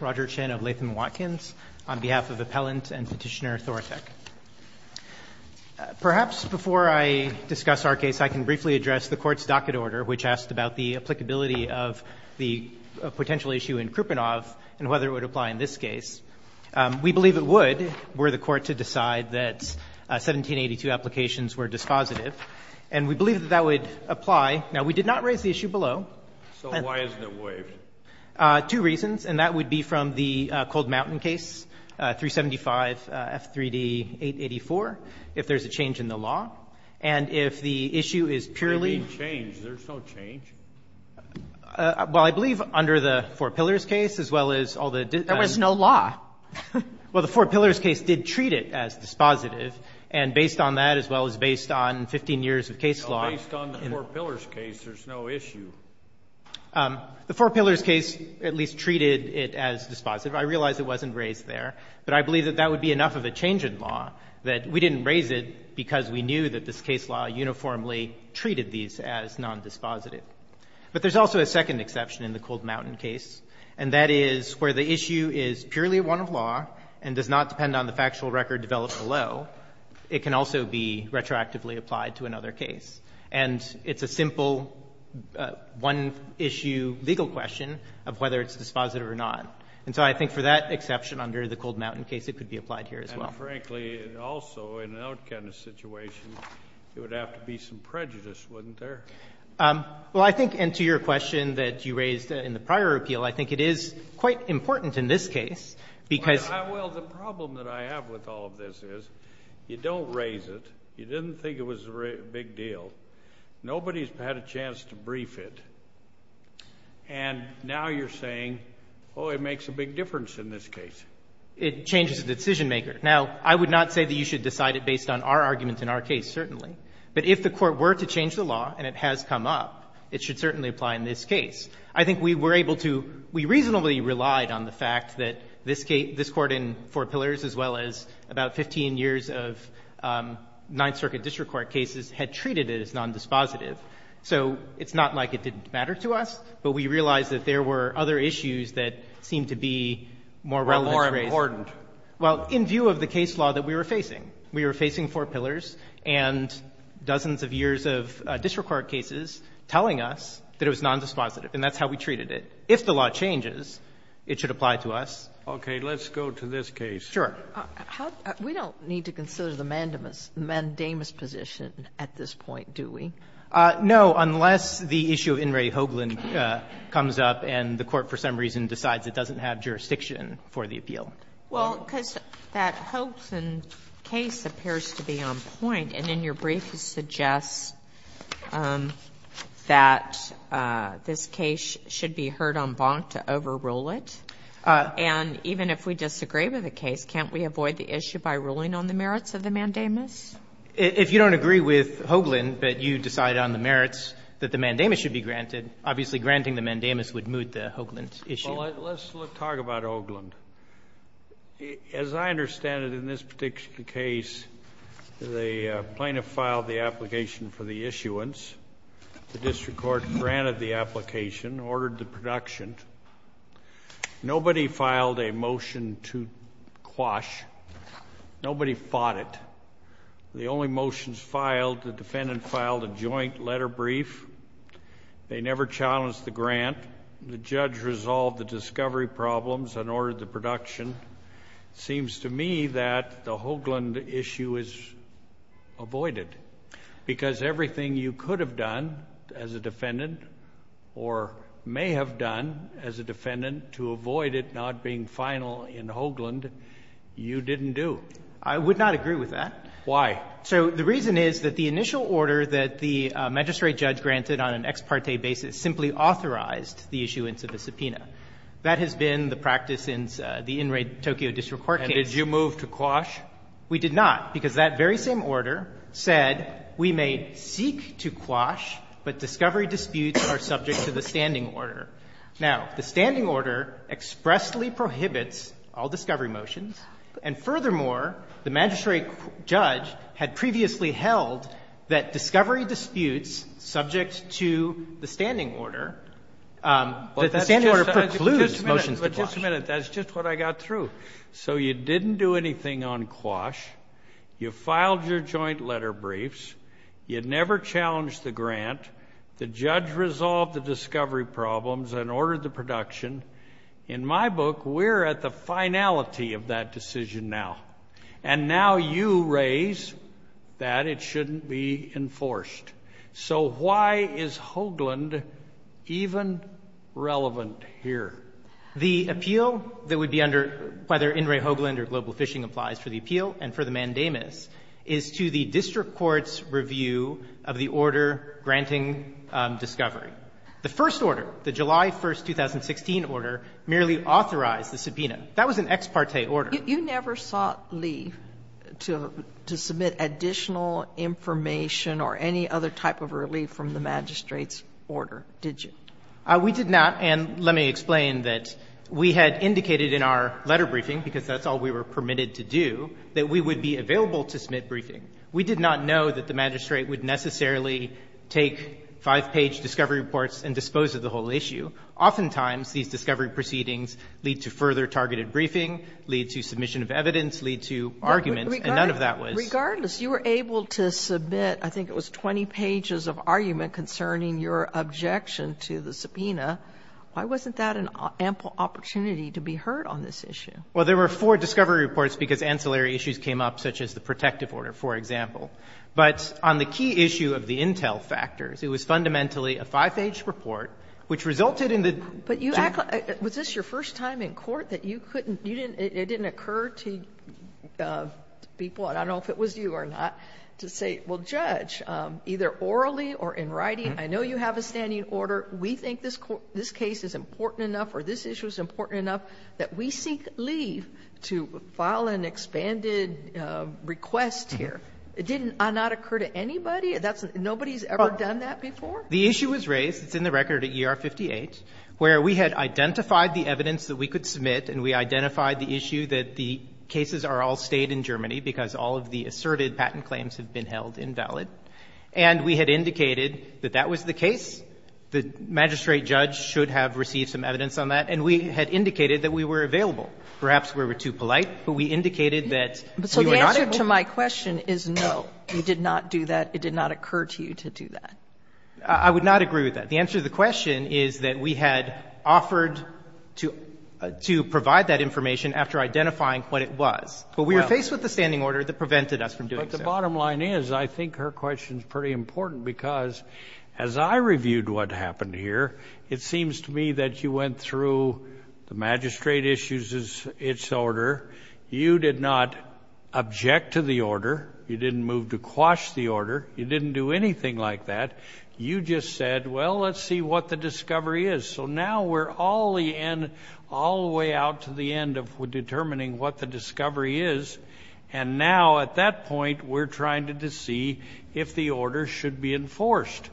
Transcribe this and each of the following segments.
Roger Chen of Latham Watkins, on behalf of Appellant and Petitioner Thoratec. Perhaps before I discuss our case, I can briefly address the Court's docket order, which asked about the applicability of the potential issue in Kruponov and whether it would apply in this case. We believe it would, were the Court to decide that 1782 applications were dispositive. And we believe that that would apply. Now, we did not raise the issue below. So why isn't it waived? Two reasons, and that would be from the Cold Mountain case, 375F3D884, if there's a change in the law. And if the issue is purely ---- They didn't change. There's no change. Well, I believe under the Four Pillars case, as well as all the ---- There was no law. Well, the Four Pillars case did treat it as dispositive. And based on that, as well as based on 15 years of case law ---- Based on the Four Pillars case, there's no issue. The Four Pillars case at least treated it as dispositive. I realize it wasn't raised there. But I believe that that would be enough of a change in law, that we didn't raise it because we knew that this case law uniformly treated these as nondispositive. But there's also a second exception in the Cold Mountain case, and that is where the issue is purely one of law and does not depend on the factual record developed below, it can also be retroactively applied to another case. And it's a simple one-issue legal question of whether it's dispositive or not. And so I think for that exception under the Cold Mountain case, it could be applied here, as well. And, frankly, also in an out-kind of situation, there would have to be some prejudice, wouldn't there? Well, I think, and to your question that you raised in the prior appeal, I think it is quite important in this case, because... Well, the problem that I have with all of this is you don't raise it, you didn't think it was a big deal, nobody's had a chance to brief it, and now you're saying, oh, it makes a big difference in this case. It changes the decision-maker. Now, I would not say that you should decide it based on our argument in our case, certainly. But if the Court were to change the law, and it has come up, it should certainly apply in this case. I think we were able to, we reasonably relied on the fact that this Court in Four Pillars, as well as about 15 years of Ninth Circuit district court cases, had treated it as nondispositive. So it's not like it didn't matter to us, but we realized that there were other issues that seemed to be more relevant to raise. Or more important. Well, in view of the case law that we were facing, we were facing Four Pillars and dozens of years of district court cases telling us that it was nondispositive. And that's how we treated it. If the law changes, it should apply to us. Roberts. Okay. Let's go to this case. Sure. We don't need to consider the mandamus position at this point, do we? No. Unless the issue of In re Hoagland comes up and the Court for some reason decides it doesn't have jurisdiction for the appeal. And even if we disagree with the case, can't we avoid the issue by ruling on the merits of the mandamus? If you don't agree with Hoagland, but you decide on the merits that the mandamus should be granted, obviously granting the mandamus would moot the Hoagland issue. Well, let's talk about Hoagland. As I understand it, in this particular case, the plaintiff filed the application for the issuance. The district court granted the application, ordered the production. Nobody filed a motion to quash. Nobody fought it. The only motions filed, the defendant filed a joint letter brief. They never challenged the grant. The judge resolved the discovery problems and ordered the production. It seems to me that the Hoagland issue is avoided, because everything you could have done as a defendant or may have done as a defendant to avoid it not being final in Hoagland, you didn't do. I would not agree with that. Why? So the reason is that the initial order that the magistrate judge granted on an ex parte basis simply authorized the issuance of a subpoena. That has been the practice in the in raid Tokyo district court case. And did you move to quash? We did not, because that very same order said we may seek to quash, but discovery disputes are subject to the standing order. Now, the standing order expressly prohibits all discovery motions, and furthermore, the magistrate judge had previously held that discovery disputes subject to the standing order. The standing order precludes motions to quash. But just a minute. That's just what I got through. So you didn't do anything on quash. You filed your joint letter briefs. You never challenged the grant. The judge resolved the discovery problems and ordered the production. In my book, we're at the finality of that decision now. And now you raise that it shouldn't be enforced. So why is Hoagland even relevant here? The appeal that would be under whether In re Hoagland or Global Fishing applies for the appeal and for the mandamus is to the district court's review of the order granting discovery. The first order, the July 1, 2016 order, merely authorized the subpoena. That was an ex parte order. You never sought leave to submit additional information or any other type of relief from the magistrate's order, did you? We did not. And let me explain that we had indicated in our letter briefing, because that's all we were permitted to do, that we would be available to submit briefing. We did not know that the magistrate would necessarily take five-page discovery reports and dispose of the whole issue. Oftentimes, these discovery proceedings lead to further targeted briefing, lead to submission of evidence, lead to arguments, and none of that was ---- Regardless, you were able to submit, I think it was 20 pages of argument concerning your objection to the subpoena. Why wasn't that an ample opportunity to be heard on this issue? Well, there were four discovery reports because ancillary issues came up, such as the protective order, for example. But on the key issue of the intel factors, it was fundamentally a five-page report, which resulted in the ---- But was this your first time in court that it didn't occur to people, I don't know if it was you or not, to say, well, Judge, either orally or in writing, I know you have a standing order. We think this case is important enough or this issue is important enough that we seek leave to file an expanded request here. It did not occur to anybody? Nobody's ever done that before? The issue was raised. It's in the record at ER 58, where we had identified the evidence that we could submit and we identified the issue that the cases are all stayed in Germany because all of the asserted patent claims have been held invalid. And we had indicated that that was the case. The magistrate judge should have received some evidence on that. And we had indicated that we were available. Perhaps we were too polite, but we indicated that ---- So the answer to my question is no, you did not do that. It did not occur to you to do that. I would not agree with that. The answer to the question is that we had offered to provide that information after identifying what it was. But we were faced with a standing order that prevented us from doing so. But the bottom line is I think her question is pretty important because as I reviewed what happened here, it seems to me that you went through the magistrate issues its order. You did not object to the order. You didn't move to quash the order. You didn't do anything like that. You just said, well, let's see what the discovery is. So now we're all the way out to the end of determining what the discovery is. And now at that point we're trying to see if the order should be enforced.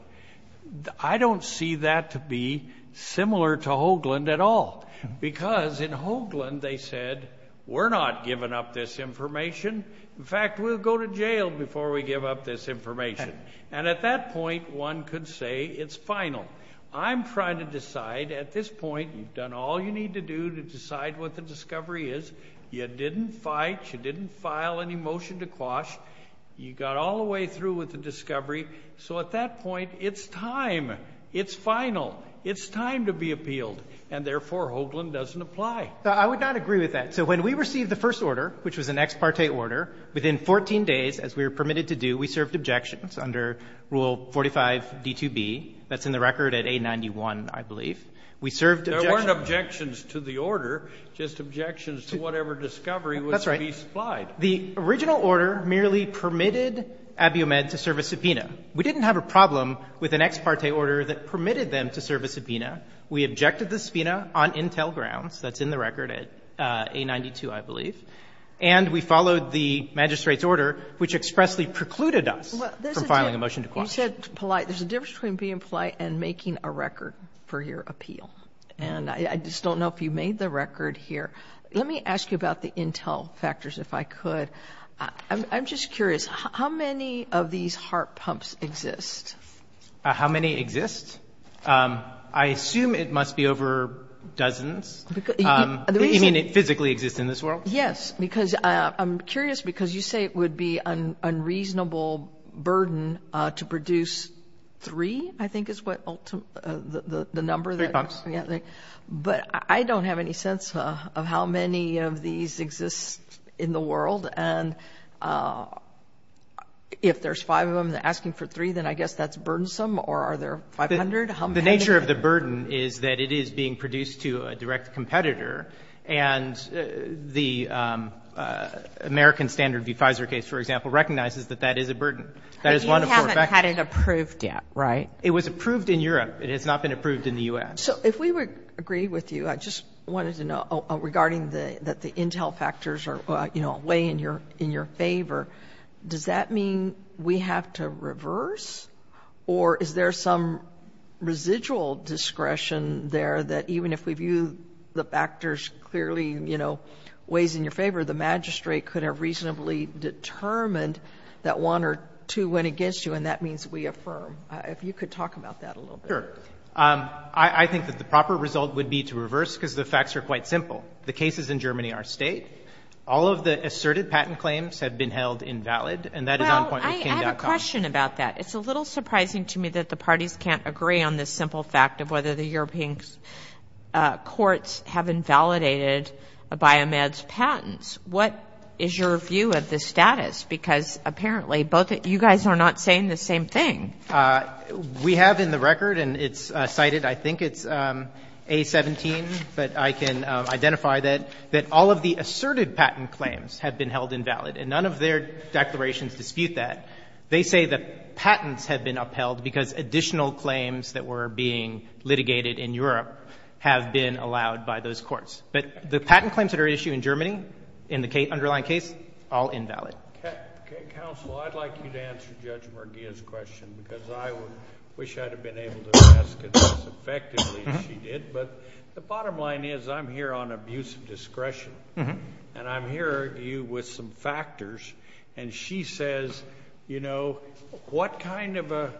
I don't see that to be similar to Hoagland at all because in Hoagland they said, we're not giving up this information. In fact, we'll go to jail before we give up this information. And at that point one could say it's final. I'm trying to decide at this point you've done all you need to do to decide what the discovery is. You didn't fight. You didn't file any motion to quash. You got all the way through with the discovery. So at that point it's time. It's final. It's time to be appealed. And therefore Hoagland doesn't apply. So I would not agree with that. So when we received the first order, which was an ex parte order, within 14 days as we were permitted to do, we served objections under Rule 45D2B. That's in the record at A91, I believe. We served objections. There weren't objections to the order, just objections to whatever discovery was to be supplied. That's right. The original order merely permitted Abiomed to serve a subpoena. We didn't have a problem with an ex parte order that permitted them to serve a subpoena. We objected the subpoena on intel grounds. That's in the record at A92, I believe. And we followed the magistrate's order, which expressly precluded us from filing a motion to quash. You said polite. There's a difference between being polite and making a record for your appeal. And I just don't know if you made the record here. Let me ask you about the intel factors, if I could. I'm just curious. How many of these heart pumps exist? How many exist? I assume it must be over dozens. You mean it physically exists in this world? Yes. Because I'm curious because you say it would be an unreasonable burden to produce three, I think, is what the number. Three pumps. But I don't have any sense of how many of these exist in the world. And if there's five of them asking for three, then I guess that's burdensome, or are there 500? The nature of the burden is that it is being produced to a direct competitor. And the American Standard v. Pfizer case, for example, recognizes that that is a burden. That is one of four factors. But you haven't had it approved yet, right? It was approved in Europe. It has not been approved in the U.S. So if we would agree with you, I just wanted to know, regarding that the intel factors are a way in your favor, does that mean we have to reverse? Or is there some residual discretion there that even if we view the factors clearly, you know, ways in your favor, the magistrate could have reasonably determined that one or two went against you, and that means we affirm. If you could talk about that a little bit. Sure. I think that the proper result would be to reverse because the facts are quite simple. The cases in Germany are state. All of the asserted patent claims have been held invalid, and that is on point with K-dot-com. I have a question about that. It's a little surprising to me that the parties can't agree on this simple fact of whether the European courts have invalidated Biomed's patents. What is your view of the status? Because apparently both of you guys are not saying the same thing. We have in the record, and it's cited, I think it's A-17, but I can identify that all of the asserted patent claims have been held invalid, and none of their declarations dispute that. They say that patents have been upheld because additional claims that were being litigated in Europe have been allowed by those courts. But the patent claims that are issued in Germany in the underlying case, all invalid. Counsel, I'd like you to answer Judge Merguia's question because I wish I would have been able to ask it as effectively as she did. But the bottom line is I'm here on abuse of discretion. And I'm here, you, with some factors. And she says, you know, what kind of a,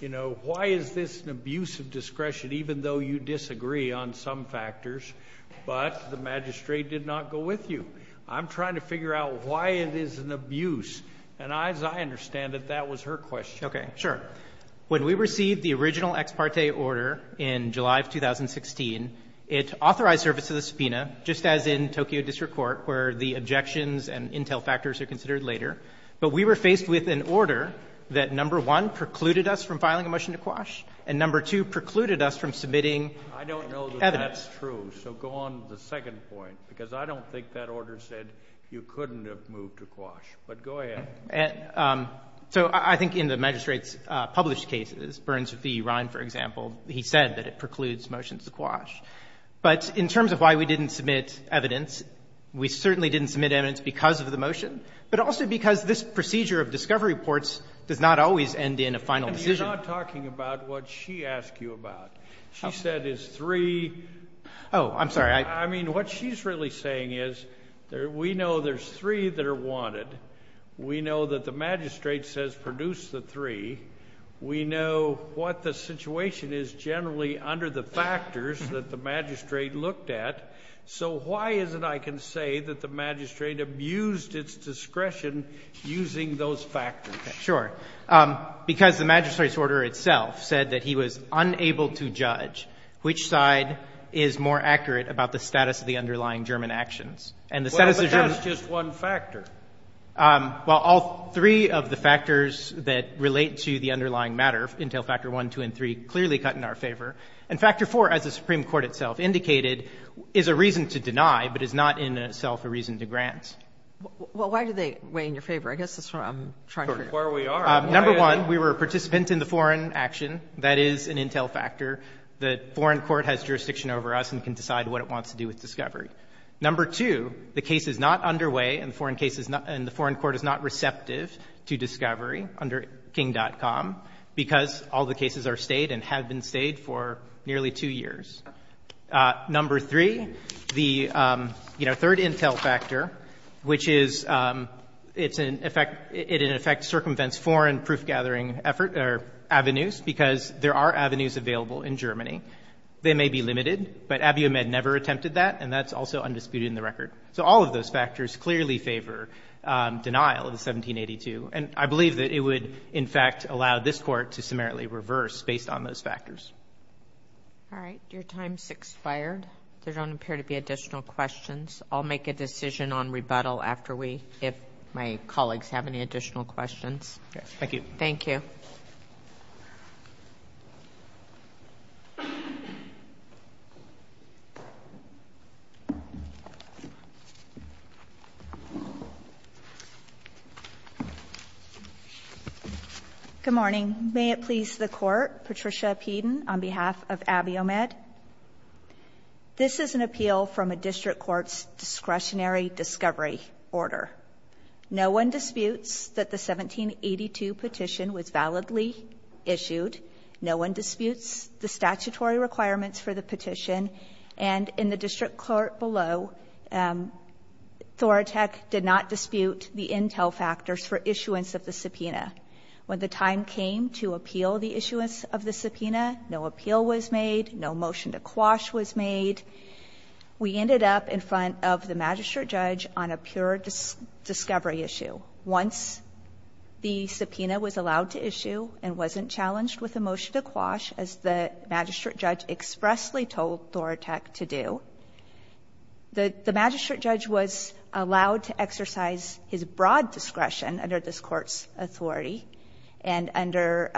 you know, why is this an abuse of discretion, even though you disagree on some factors, but the magistrate did not go with you? I'm trying to figure out why it is an abuse. And as I understand it, that was her question. Sure. When we received the original ex parte order in July of 2016, it authorized service to the subpoena, just as in Tokyo District Court where the objections and intel factors are considered later. But we were faced with an order that, number one, precluded us from filing a motion to quash, and number two, precluded us from submitting evidence. I don't know that that's true, so go on to the second point, because I don't think that order said you couldn't have moved to quash. But go ahead. Okay. So I think in the magistrate's published cases, Burns v. Ryan, for example, he said that it precludes motions to quash. But in terms of why we didn't submit evidence, we certainly didn't submit evidence because of the motion, but also because this procedure of discovery reports does not always end in a final decision. You're not talking about what she asked you about. She said it's three. Oh, I'm sorry. I mean, what she's really saying is we know there's three that are wanted. We know that the magistrate says produce the three. We know what the situation is generally under the factors that the magistrate looked at. So why is it I can say that the magistrate abused its discretion using those factors? Sure. Because the magistrate's order itself said that he was unable to judge which side is more accurate about the status of the underlying German actions. Well, but that's just one factor. Well, all three of the factors that relate to the underlying matter, Intel Factor I, II, and III, clearly cut in our favor. And Factor IV, as the Supreme Court itself indicated, is a reason to deny but is not in itself a reason to grant. Well, why do they weigh in your favor? I guess that's what I'm trying to figure out. Where we are. Number one, we were a participant in the foreign action. That is an Intel Factor. The foreign court has jurisdiction over us and can decide what it wants to do with discovery. Number two, the case is not underway and the foreign court is not receptive to discovery under King.com because all the cases are stayed and have been stayed for nearly two years. Number three, the, you know, third Intel Factor, which is it in effect circumvents foreign proof-gathering avenues because there are avenues available in Germany. They may be limited, but Abiy Ahmed never attempted that, and that's also undisputed in the record. So all of those factors clearly favor denial of the 1782. And I believe that it would, in fact, allow this court to summarily reverse based on those factors. All right. Your time has expired. There don't appear to be additional questions. I'll make a decision on rebuttal after we, if my colleagues have any additional questions. Thank you. Thank you. Thank you. Good morning. May it please the court, Patricia Peden on behalf of Abiy Ahmed. This is an appeal from a district court's discretionary discovery order. No one disputes that the 1782 petition was validly issued. No one disputes the statutory requirements for the petition. And in the district court below, Thoratek did not dispute the Intel Factors for issuance of the subpoena. When the time came to appeal the issuance of the subpoena, no appeal was made. No motion to quash was made. We ended up in front of the magistrate judge on a pure discovery issue. So once the subpoena was allowed to issue and wasn't challenged with a motion to quash, as the magistrate judge expressly told Thoratek to do, the magistrate judge was allowed to exercise his broad discretion under this Court's authority and under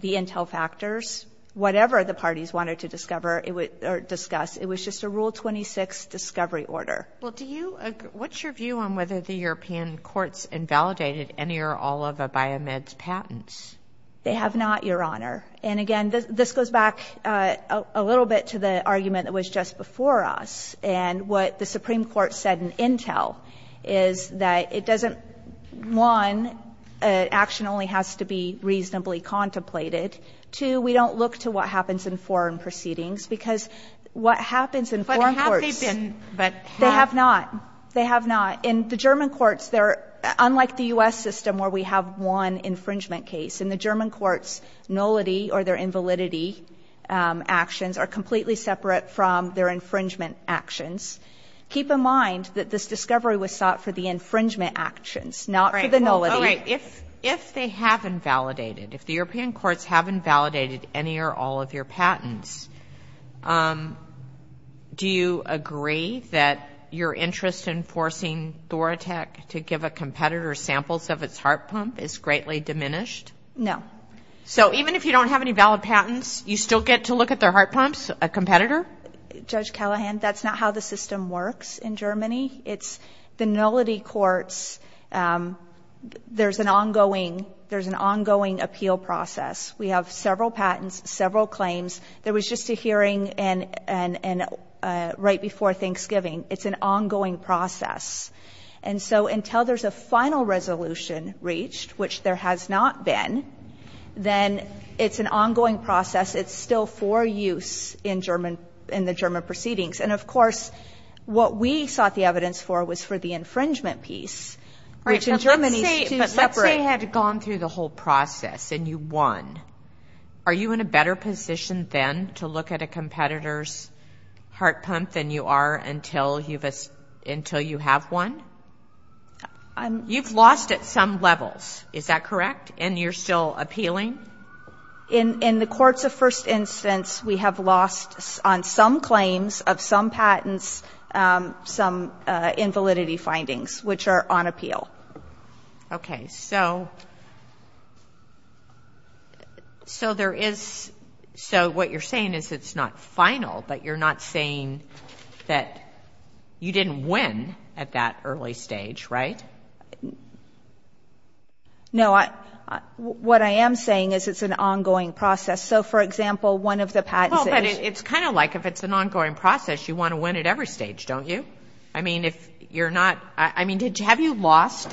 the Intel Factors, whatever the parties wanted to discover or discuss. It was just a Rule 26 discovery order. Sotomayor, what's your view on whether the European courts invalidated any or all of Abiy Ahmed's patents? They have not, Your Honor. And, again, this goes back a little bit to the argument that was just before us. And what the Supreme Court said in Intel is that it doesn't, one, action only has to be reasonably contemplated. Two, we don't look to what happens in foreign proceedings, because what happens in foreign courts ---- But have they been ---- They have not. They have not. In the German courts, they're, unlike the U.S. system where we have one infringement case, in the German courts, nullity or their invalidity actions are completely separate from their infringement actions. Keep in mind that this discovery was sought for the infringement actions, not for the nullity. All right. If they haven't validated, if the European courts haven't validated any or all of your patents, do you agree that your interest in forcing Thoratech to give a competitor samples of its heart pump is greatly diminished? No. So even if you don't have any valid patents, you still get to look at their heart pumps, a competitor? Judge Callahan, that's not how the system works in Germany. It's the nullity courts, there's an ongoing, there's an ongoing appeal process. We have several patents, several claims. There was just a hearing right before Thanksgiving. It's an ongoing process. And so until there's a final resolution reached, which there has not been, then it's an ongoing process. It's still for use in German, in the German proceedings. And, of course, what we sought the evidence for was for the infringement piece, which in Germany is separate. Let's say you had gone through the whole process and you won. Are you in a better position then to look at a competitor's heart pump than you are until you have won? You've lost at some levels. Is that correct? And you're still appealing? In the courts of first instance, we have lost on some claims of some patents, some invalidity findings, which are on appeal. Okay. So there is, so what you're saying is it's not final, but you're not saying that you didn't win at that early stage, right? No. What I am saying is it's an ongoing process. So, for example, one of the patents is. Well, but it's kind of like if it's an ongoing process, you want to win at every stage, don't you? I mean, if you're not. I mean, have you lost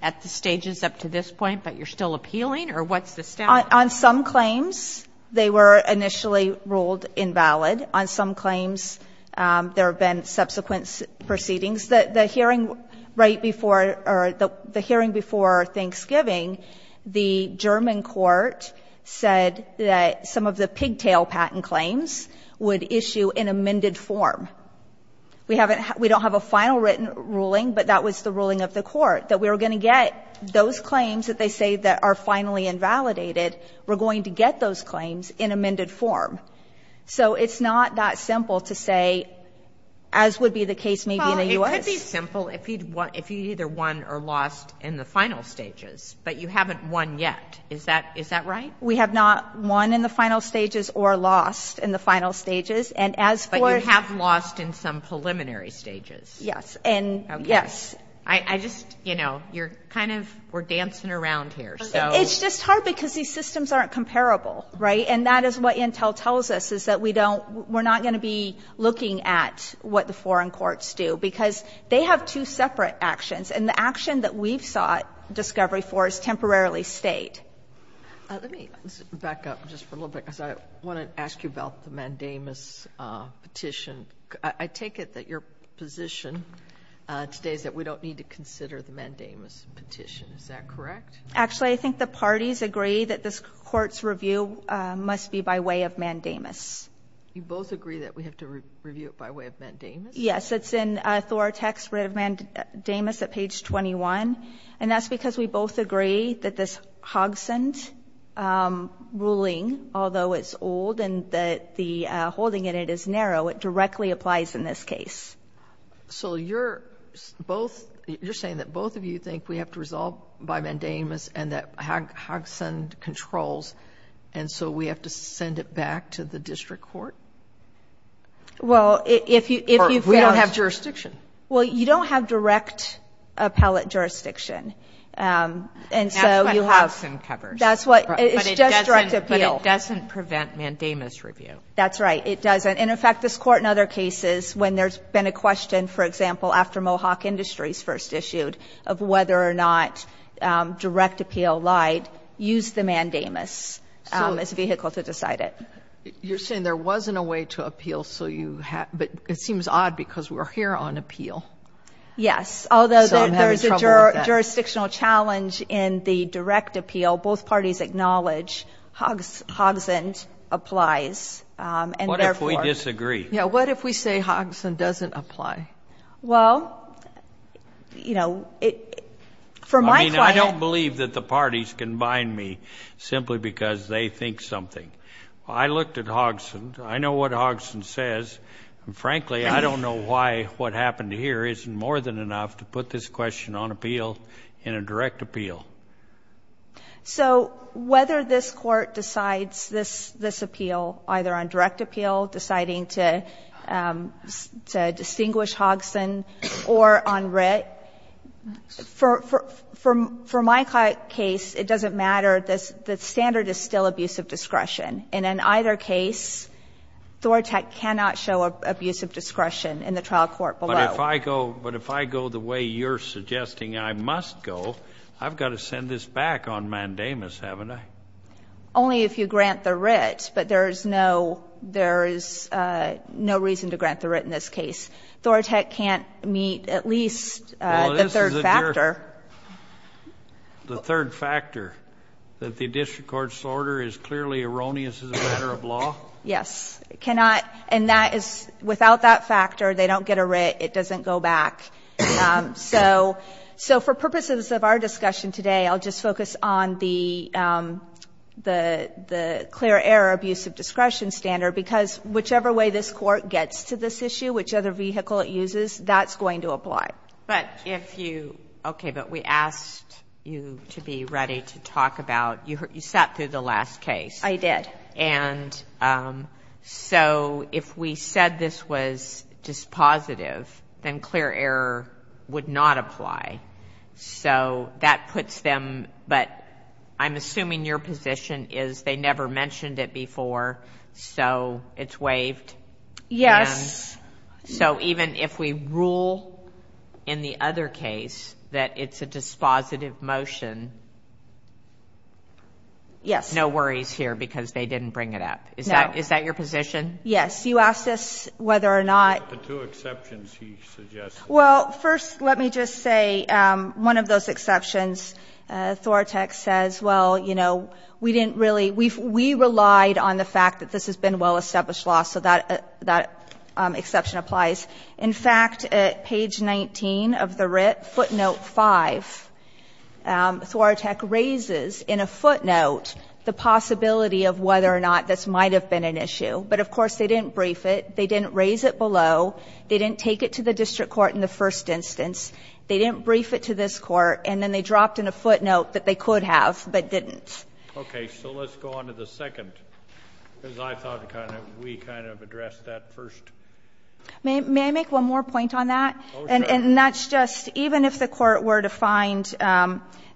at the stages up to this point, but you're still appealing or what's the status? On some claims, they were initially ruled invalid. On some claims, there have been subsequent proceedings. The hearing right before or the hearing before Thanksgiving, the German court said that some of the pigtail patent claims would issue in amended form. We don't have a final written ruling, but that was the ruling of the court, that we were going to get those claims that they say that are finally invalidated, we're going to get those claims in amended form. So it's not that simple to say, as would be the case maybe in the U.S. Well, it could be simple if you either won or lost in the final stages, but you haven't won yet. Is that right? We have not won in the final stages or lost in the final stages. And as for. You have lost in some preliminary stages. Yes. And yes. Okay. I just, you know, you're kind of, we're dancing around here, so. It's just hard because these systems aren't comparable, right? And that is what Intel tells us is that we don't, we're not going to be looking at what the foreign courts do because they have two separate actions. And the action that we've sought discovery for is temporarily state. Let me back up just for a little bit because I want to ask you about the Mandamus petition. I take it that your position today is that we don't need to consider the Mandamus petition. Is that correct? Actually, I think the parties agree that this Court's review must be by way of Mandamus. You both agree that we have to review it by way of Mandamus? Yes. It's in Thoratek's writ of Mandamus at page 21. And that's because we both agree that this Hogson's ruling, although it's old and the holding in it is narrow, it directly applies in this case. So you're both, you're saying that both of you think we have to resolve by Mandamus and that Hogson controls, and so we have to send it back to the district court? Well, if you feel... Or we don't have jurisdiction. Well, you don't have direct appellate jurisdiction. And so you have... That's what Hogson covers. That's what, it's just direct appeal. It doesn't prevent Mandamus review. That's right. It doesn't. And, in fact, this Court in other cases, when there's been a question, for example, after Mohawk Industries first issued, of whether or not direct appeal lied, used the Mandamus as a vehicle to decide it. You're saying there wasn't a way to appeal, so you had, but it seems odd because we're here on appeal. Yes. Although there's a jurisdictional challenge in the direct appeal, both parties acknowledge Hogson applies, and therefore... What if we disagree? Yes. What if we say Hogson doesn't apply? Well, you know, for my client... I mean, I don't believe that the parties can bind me simply because they think something. I looked at Hogson. I know what Hogson says. And, frankly, I don't know why what happened here isn't more than enough to put this question on appeal in a direct appeal. So whether this Court decides this appeal either on direct appeal, deciding to distinguish Hogson, or on writ, for my client's case, it doesn't matter. The standard is still abuse of discretion. And in either case, Thorntek cannot show abuse of discretion in the trial court below. But if I go the way you're suggesting I must go, I've got to send this back on mandamus, haven't I? Only if you grant the writ. But there is no reason to grant the writ in this case. Thorntek can't meet at least the third factor. The third factor, that the district court's order is clearly erroneous as a matter of law? Yes. And that is, without that factor, they don't get a writ. It doesn't go back. So for purposes of our discussion today, I'll just focus on the clear error abuse of discretion standard, because whichever way this Court gets to this issue, which other vehicle it uses, that's going to apply. But if you, okay, but we asked you to be ready to talk about, you sat through the last case. I did. And so if we said this was dispositive, then clear error would not apply. So that puts them, but I'm assuming your position is they never mentioned it before, so it's waived. Yes. And so even if we rule in the other case that it's a dispositive motion, Yes. there's no worries here because they didn't bring it up. No. Is that your position? Yes. You asked us whether or not The two exceptions he suggested. Well, first, let me just say, one of those exceptions, Thorotek says, well, you know, we didn't really, we relied on the fact that this has been well-established law, so that exception applies. In fact, at page 19 of the writ, footnote 5, Thorotek raises in a footnote the possibility of whether or not this might have been an issue. But, of course, they didn't brief it, they didn't raise it below, they didn't take it to the district court in the first instance, they didn't brief it to this court, and then they dropped in a footnote that they could have but didn't. Okay. So let's go on to the second, because I thought we kind of addressed that first. May I make one more point on that? Oh, sure. And that's just, even if the court were to find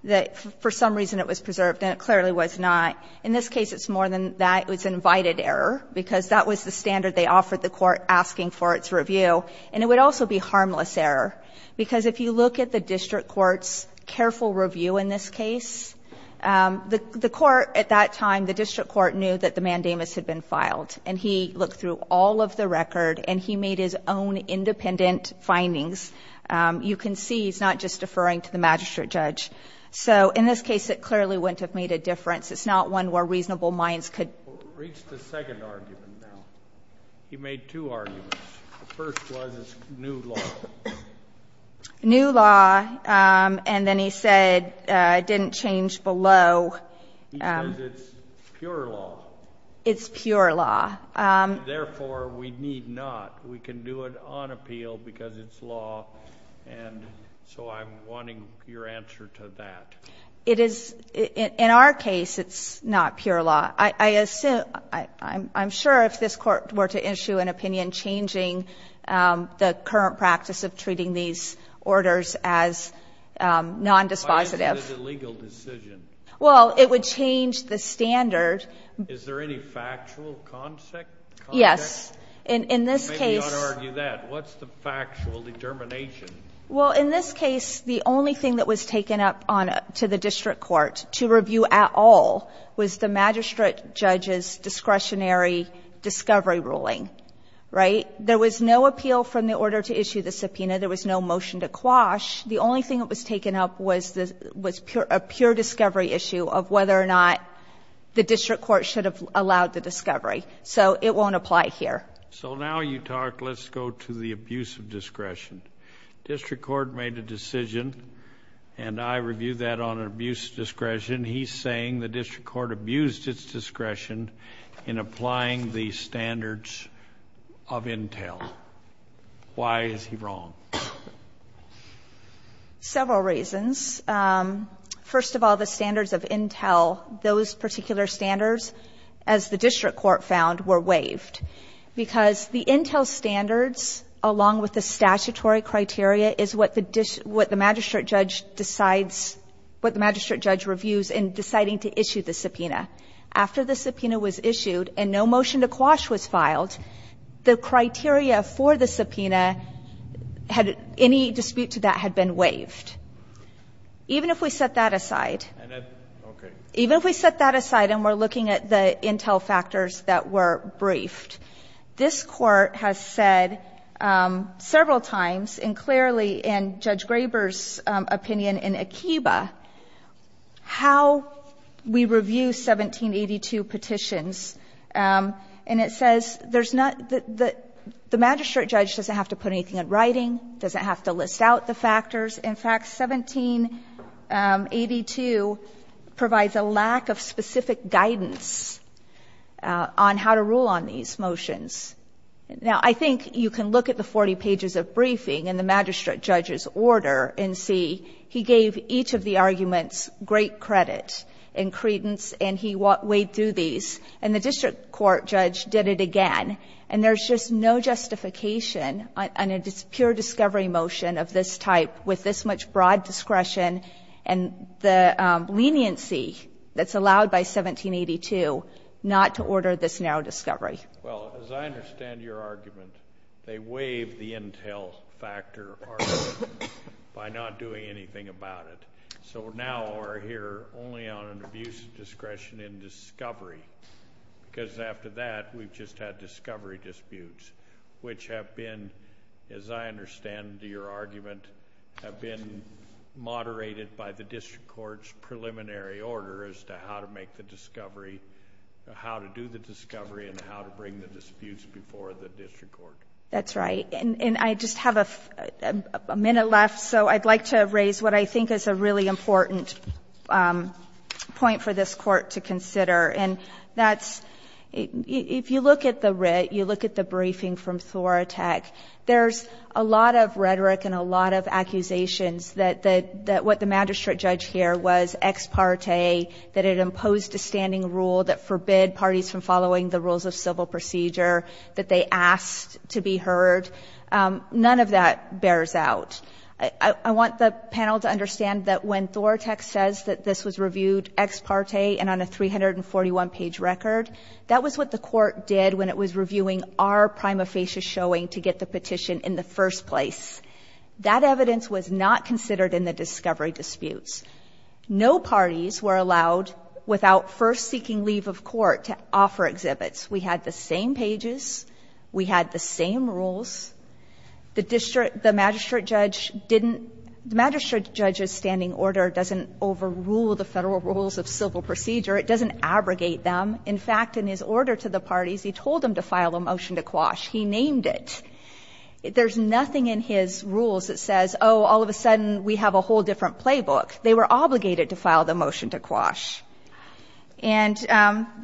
that for some reason it was preserved and it clearly was not, in this case it's more than that. It was an invited error, because that was the standard they offered the court asking for its review, and it would also be harmless error. Because if you look at the district court's careful review in this case, the court at that time, the district court knew that the mandamus had been filed, and he looked through all of the record and he made his own independent findings. You can see he's not just deferring to the magistrate judge. So in this case, it clearly wouldn't have made a difference. It's not one where reasonable minds could. Reached a second argument now. He made two arguments. The first was it's new law. New law, and then he said it didn't change below. He says it's pure law. It's pure law. Therefore, we need not. We can do it on appeal because it's law. And so I'm wanting your answer to that. It is. In our case, it's not pure law. I assume, I'm sure if this Court were to issue an opinion changing the current practice of treating these orders as nondispositive. Why isn't it a legal decision? Well, it would change the standard. Is there any factual context? Yes. In this case. Maybe not argue that. What's the factual determination? Well, in this case, the only thing that was taken up to the district court to review at all was the magistrate judge's discretionary discovery ruling. Right? There was no appeal from the order to issue the subpoena. There was no motion to quash. The only thing that was taken up was a pure discovery issue of whether or not the district court should have allowed the discovery. So it won't apply here. So now you talk, let's go to the abuse of discretion. District court made a decision, and I review that on abuse of discretion. He's saying the district court abused its discretion in applying the standards of intel. Why is he wrong? Several reasons. First of all, the standards of intel, those particular standards, as the district court found, were waived, because the intel standards, along with the statutory criteria, is what the magistrate judge decides, what the magistrate judge reviews in deciding to issue the subpoena. After the subpoena was issued and no motion to quash was filed, the criteria for the subpoena, any dispute to that had been waived. Even if we set that aside, even if we set that aside and we're looking at the intel factors that were briefed, this Court has said several times, and clearly in Judge Graber's opinion in Akiba, how we review 1782 petitions. And it says there's not the ‑‑ the magistrate judge doesn't have to put anything in writing, doesn't have to list out the factors. In fact, 1782 provides a lack of specific guidance on how to rule on these motions. Now, I think you can look at the 40 pages of briefing in the magistrate judge's order and see he gave each of the arguments great credit and credence, and he weighed through these. And the district court judge did it again. And there's just no justification on a pure discovery motion of this type with this much broad discretion and the leniency that's allowed by 1782 not to order this narrow discovery. Well, as I understand your argument, they waived the intel factor argument by not doing anything about it. So now we're here only on an abuse of discretion in discovery, because after that we've just had discovery disputes, which have been, as I understand your argument, have been moderated by the district court's preliminary order as to how to make the discovery, how to do the discovery and how to bring the disputes before the district court. That's right. And I just have a minute left, so I'd like to raise what I think is a really important point for this Court to consider. And that's, if you look at the writ, you look at the briefing from Thoratek, there's a lot of rhetoric and a lot of accusations that what the magistrate judge here was ex parte, that it imposed a standing rule that forbid parties from following the rules of civil procedure, that they asked to be heard. None of that bears out. I want the panel to understand that when Thoratek says that this was reviewed ex parte and on a 341-page record, that was what the Court did when it was reviewing our prima facie showing to get the petition in the first place. That evidence was not considered in the discovery disputes. No parties were allowed, without first seeking leave of court, to offer exhibits. We had the same pages. We had the same rules. The magistrate judge didn't — the magistrate judge's standing order doesn't overrule the Federal rules of civil procedure. It doesn't abrogate them. In fact, in his order to the parties, he told them to file a motion to quash. He named it. There's nothing in his rules that says, oh, all of a sudden we have a whole different playbook. They were obligated to file the motion to quash. And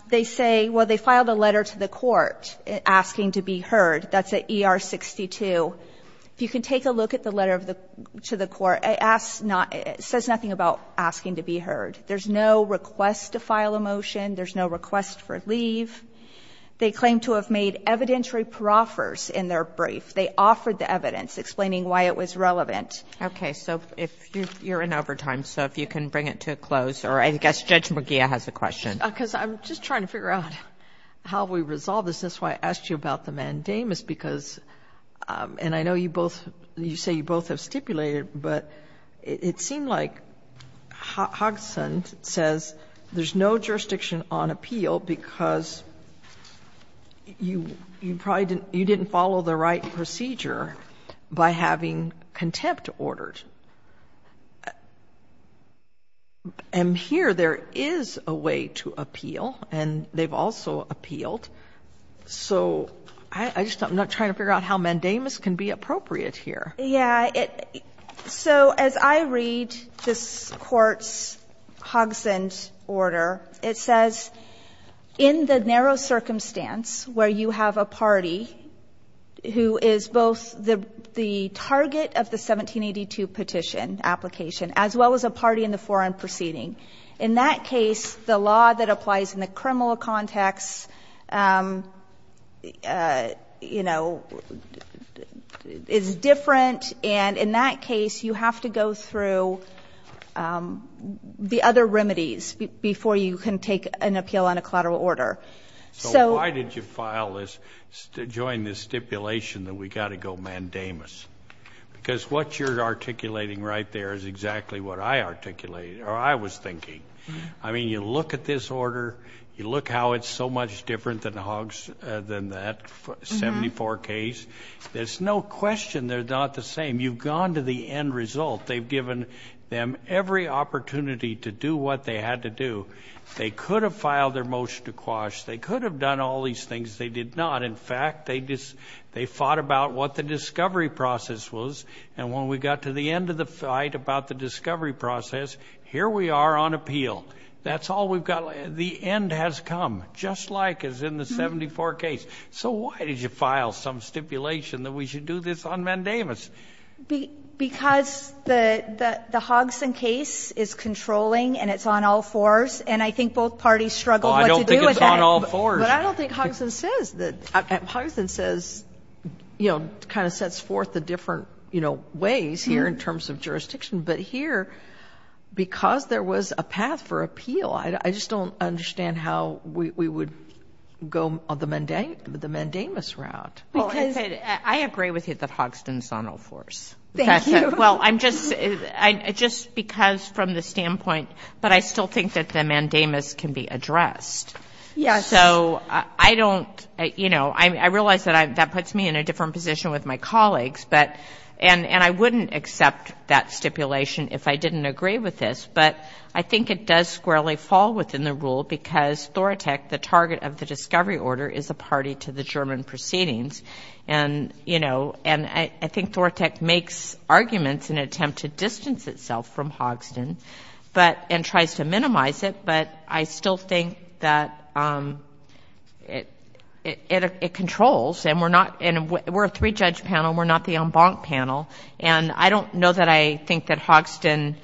they say, well, they filed a letter to the Court asking to be heard. That's at ER 62. If you can take a look at the letter to the Court, it asks not — it says nothing about asking to be heard. There's no request to file a motion. There's no request for leave. They claim to have made evidentiary proffers in their brief. They offered the evidence explaining why it was relevant. Kagan. Okay. So if you're in overtime, so if you can bring it to a close. Or I guess Judge McGeer has a question. Because I'm just trying to figure out how we resolve this. That's why I asked you about the mandamus, because — and I know you both — you It seemed like Hogson says there's no jurisdiction on appeal because you probably didn't — you didn't follow the right procedure by having contempt ordered. And here there is a way to appeal, and they've also appealed. So I just — I'm not trying to figure out how mandamus can be appropriate here. Yeah. So as I read this Court's Hogson's order, it says, in the narrow circumstance where you have a party who is both the target of the 1782 petition application as well as a party in the foreign proceeding, in that case, the law that applies in the criminal context, you know, is different. And in that case, you have to go through the other remedies before you can take an appeal on a collateral order. So — So why did you file this — join this stipulation that we've got to go mandamus? Because what you're articulating right there is exactly what I articulated or I was thinking. I mean, you look at this order. You look how it's so much different than that 74 case. There's no question they're not the same. You've gone to the end result. They've given them every opportunity to do what they had to do. They could have filed their motion to quash. They could have done all these things. They did not. In fact, they fought about what the discovery process was. And when we got to the end of the fight about the discovery process, here we are on appeal. That's all we've got. The end has come, just like as in the 74 case. So why did you file some stipulation that we should do this on mandamus? Because the Hogson case is controlling and it's on all fours, and I think both parties struggle what to do with that. Well, I don't think it's on all fours. But I don't think Hogson says that — Hogson says, you know, it kind of sets forth the different, you know, ways here in terms of jurisdiction. But here, because there was a path for appeal, I just don't understand how we would go on the mandamus route. I agree with you that Hogson is on all fours. Thank you. Well, I'm just — just because from the standpoint — but I still think that the mandamus can be addressed. Yes. So I don't — you know, I realize that puts me in a different position with my colleagues, and I wouldn't accept that stipulation if I didn't agree with this. But I think it does squarely fall within the rule because Thoratec, the target of the discovery order, is a party to the German proceedings. And, you know, I think Thoratec makes arguments in an attempt to distance itself from Hogson and tries to minimize it, but I still think that it controls. And we're not — we're a three-judge panel. We're not the en banc panel. And I don't know that I think that Hogson,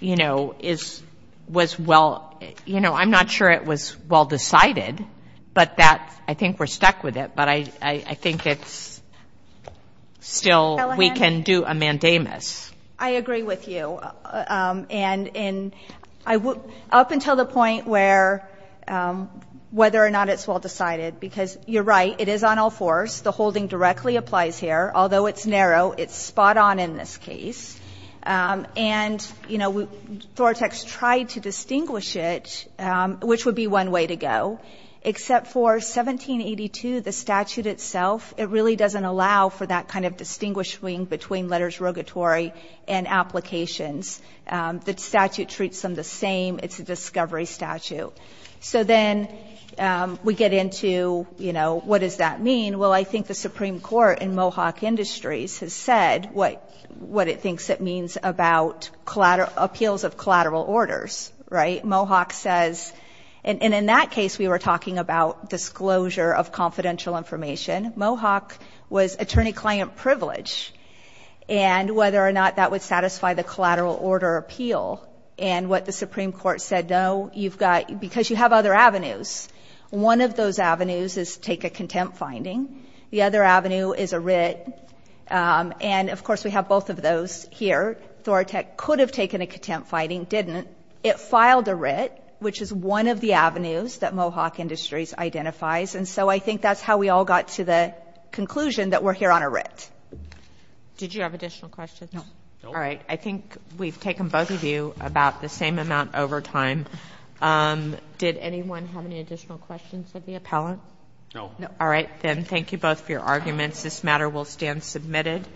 you know, is — was well — you know, I'm not sure it was well decided, but that — I think we're stuck with it. But I think it's still — we can do a mandamus. I agree with you. And in — up until the point where whether or not it's well decided, because you're right, it is on all fours. The holding directly applies here. Although it's narrow, it's spot on in this case. And, you know, Thoratec's tried to distinguish it, which would be one way to go, except for 1782, the statute itself, it really doesn't allow for that kind of distinguish between letters rogatory and applications. The statute treats them the same. It's a discovery statute. So then we get into, you know, what does that mean? Well, I think the Supreme Court in Mohawk Industries has said what it thinks it means about appeals of collateral orders, right? Mohawk says — and in that case, we were talking about disclosure of confidential information. Mohawk was attorney-client privilege. And whether or not that would satisfy the collateral order appeal and what the Supreme Court said, no, you've got — because you have other avenues. One of those avenues is take a contempt finding. The other avenue is a writ. And, of course, we have both of those here. Thoratec could have taken a contempt finding, didn't. It filed a writ, which is one of the avenues that Mohawk Industries identifies. And so I think that's how we all got to the conclusion that we're here on a writ. Did you have additional questions? No. All right. I think we've taken both of you about the same amount over time. Did anyone have any additional questions of the appellant? No. All right. Then thank you both for your arguments. This matter will stand submitted.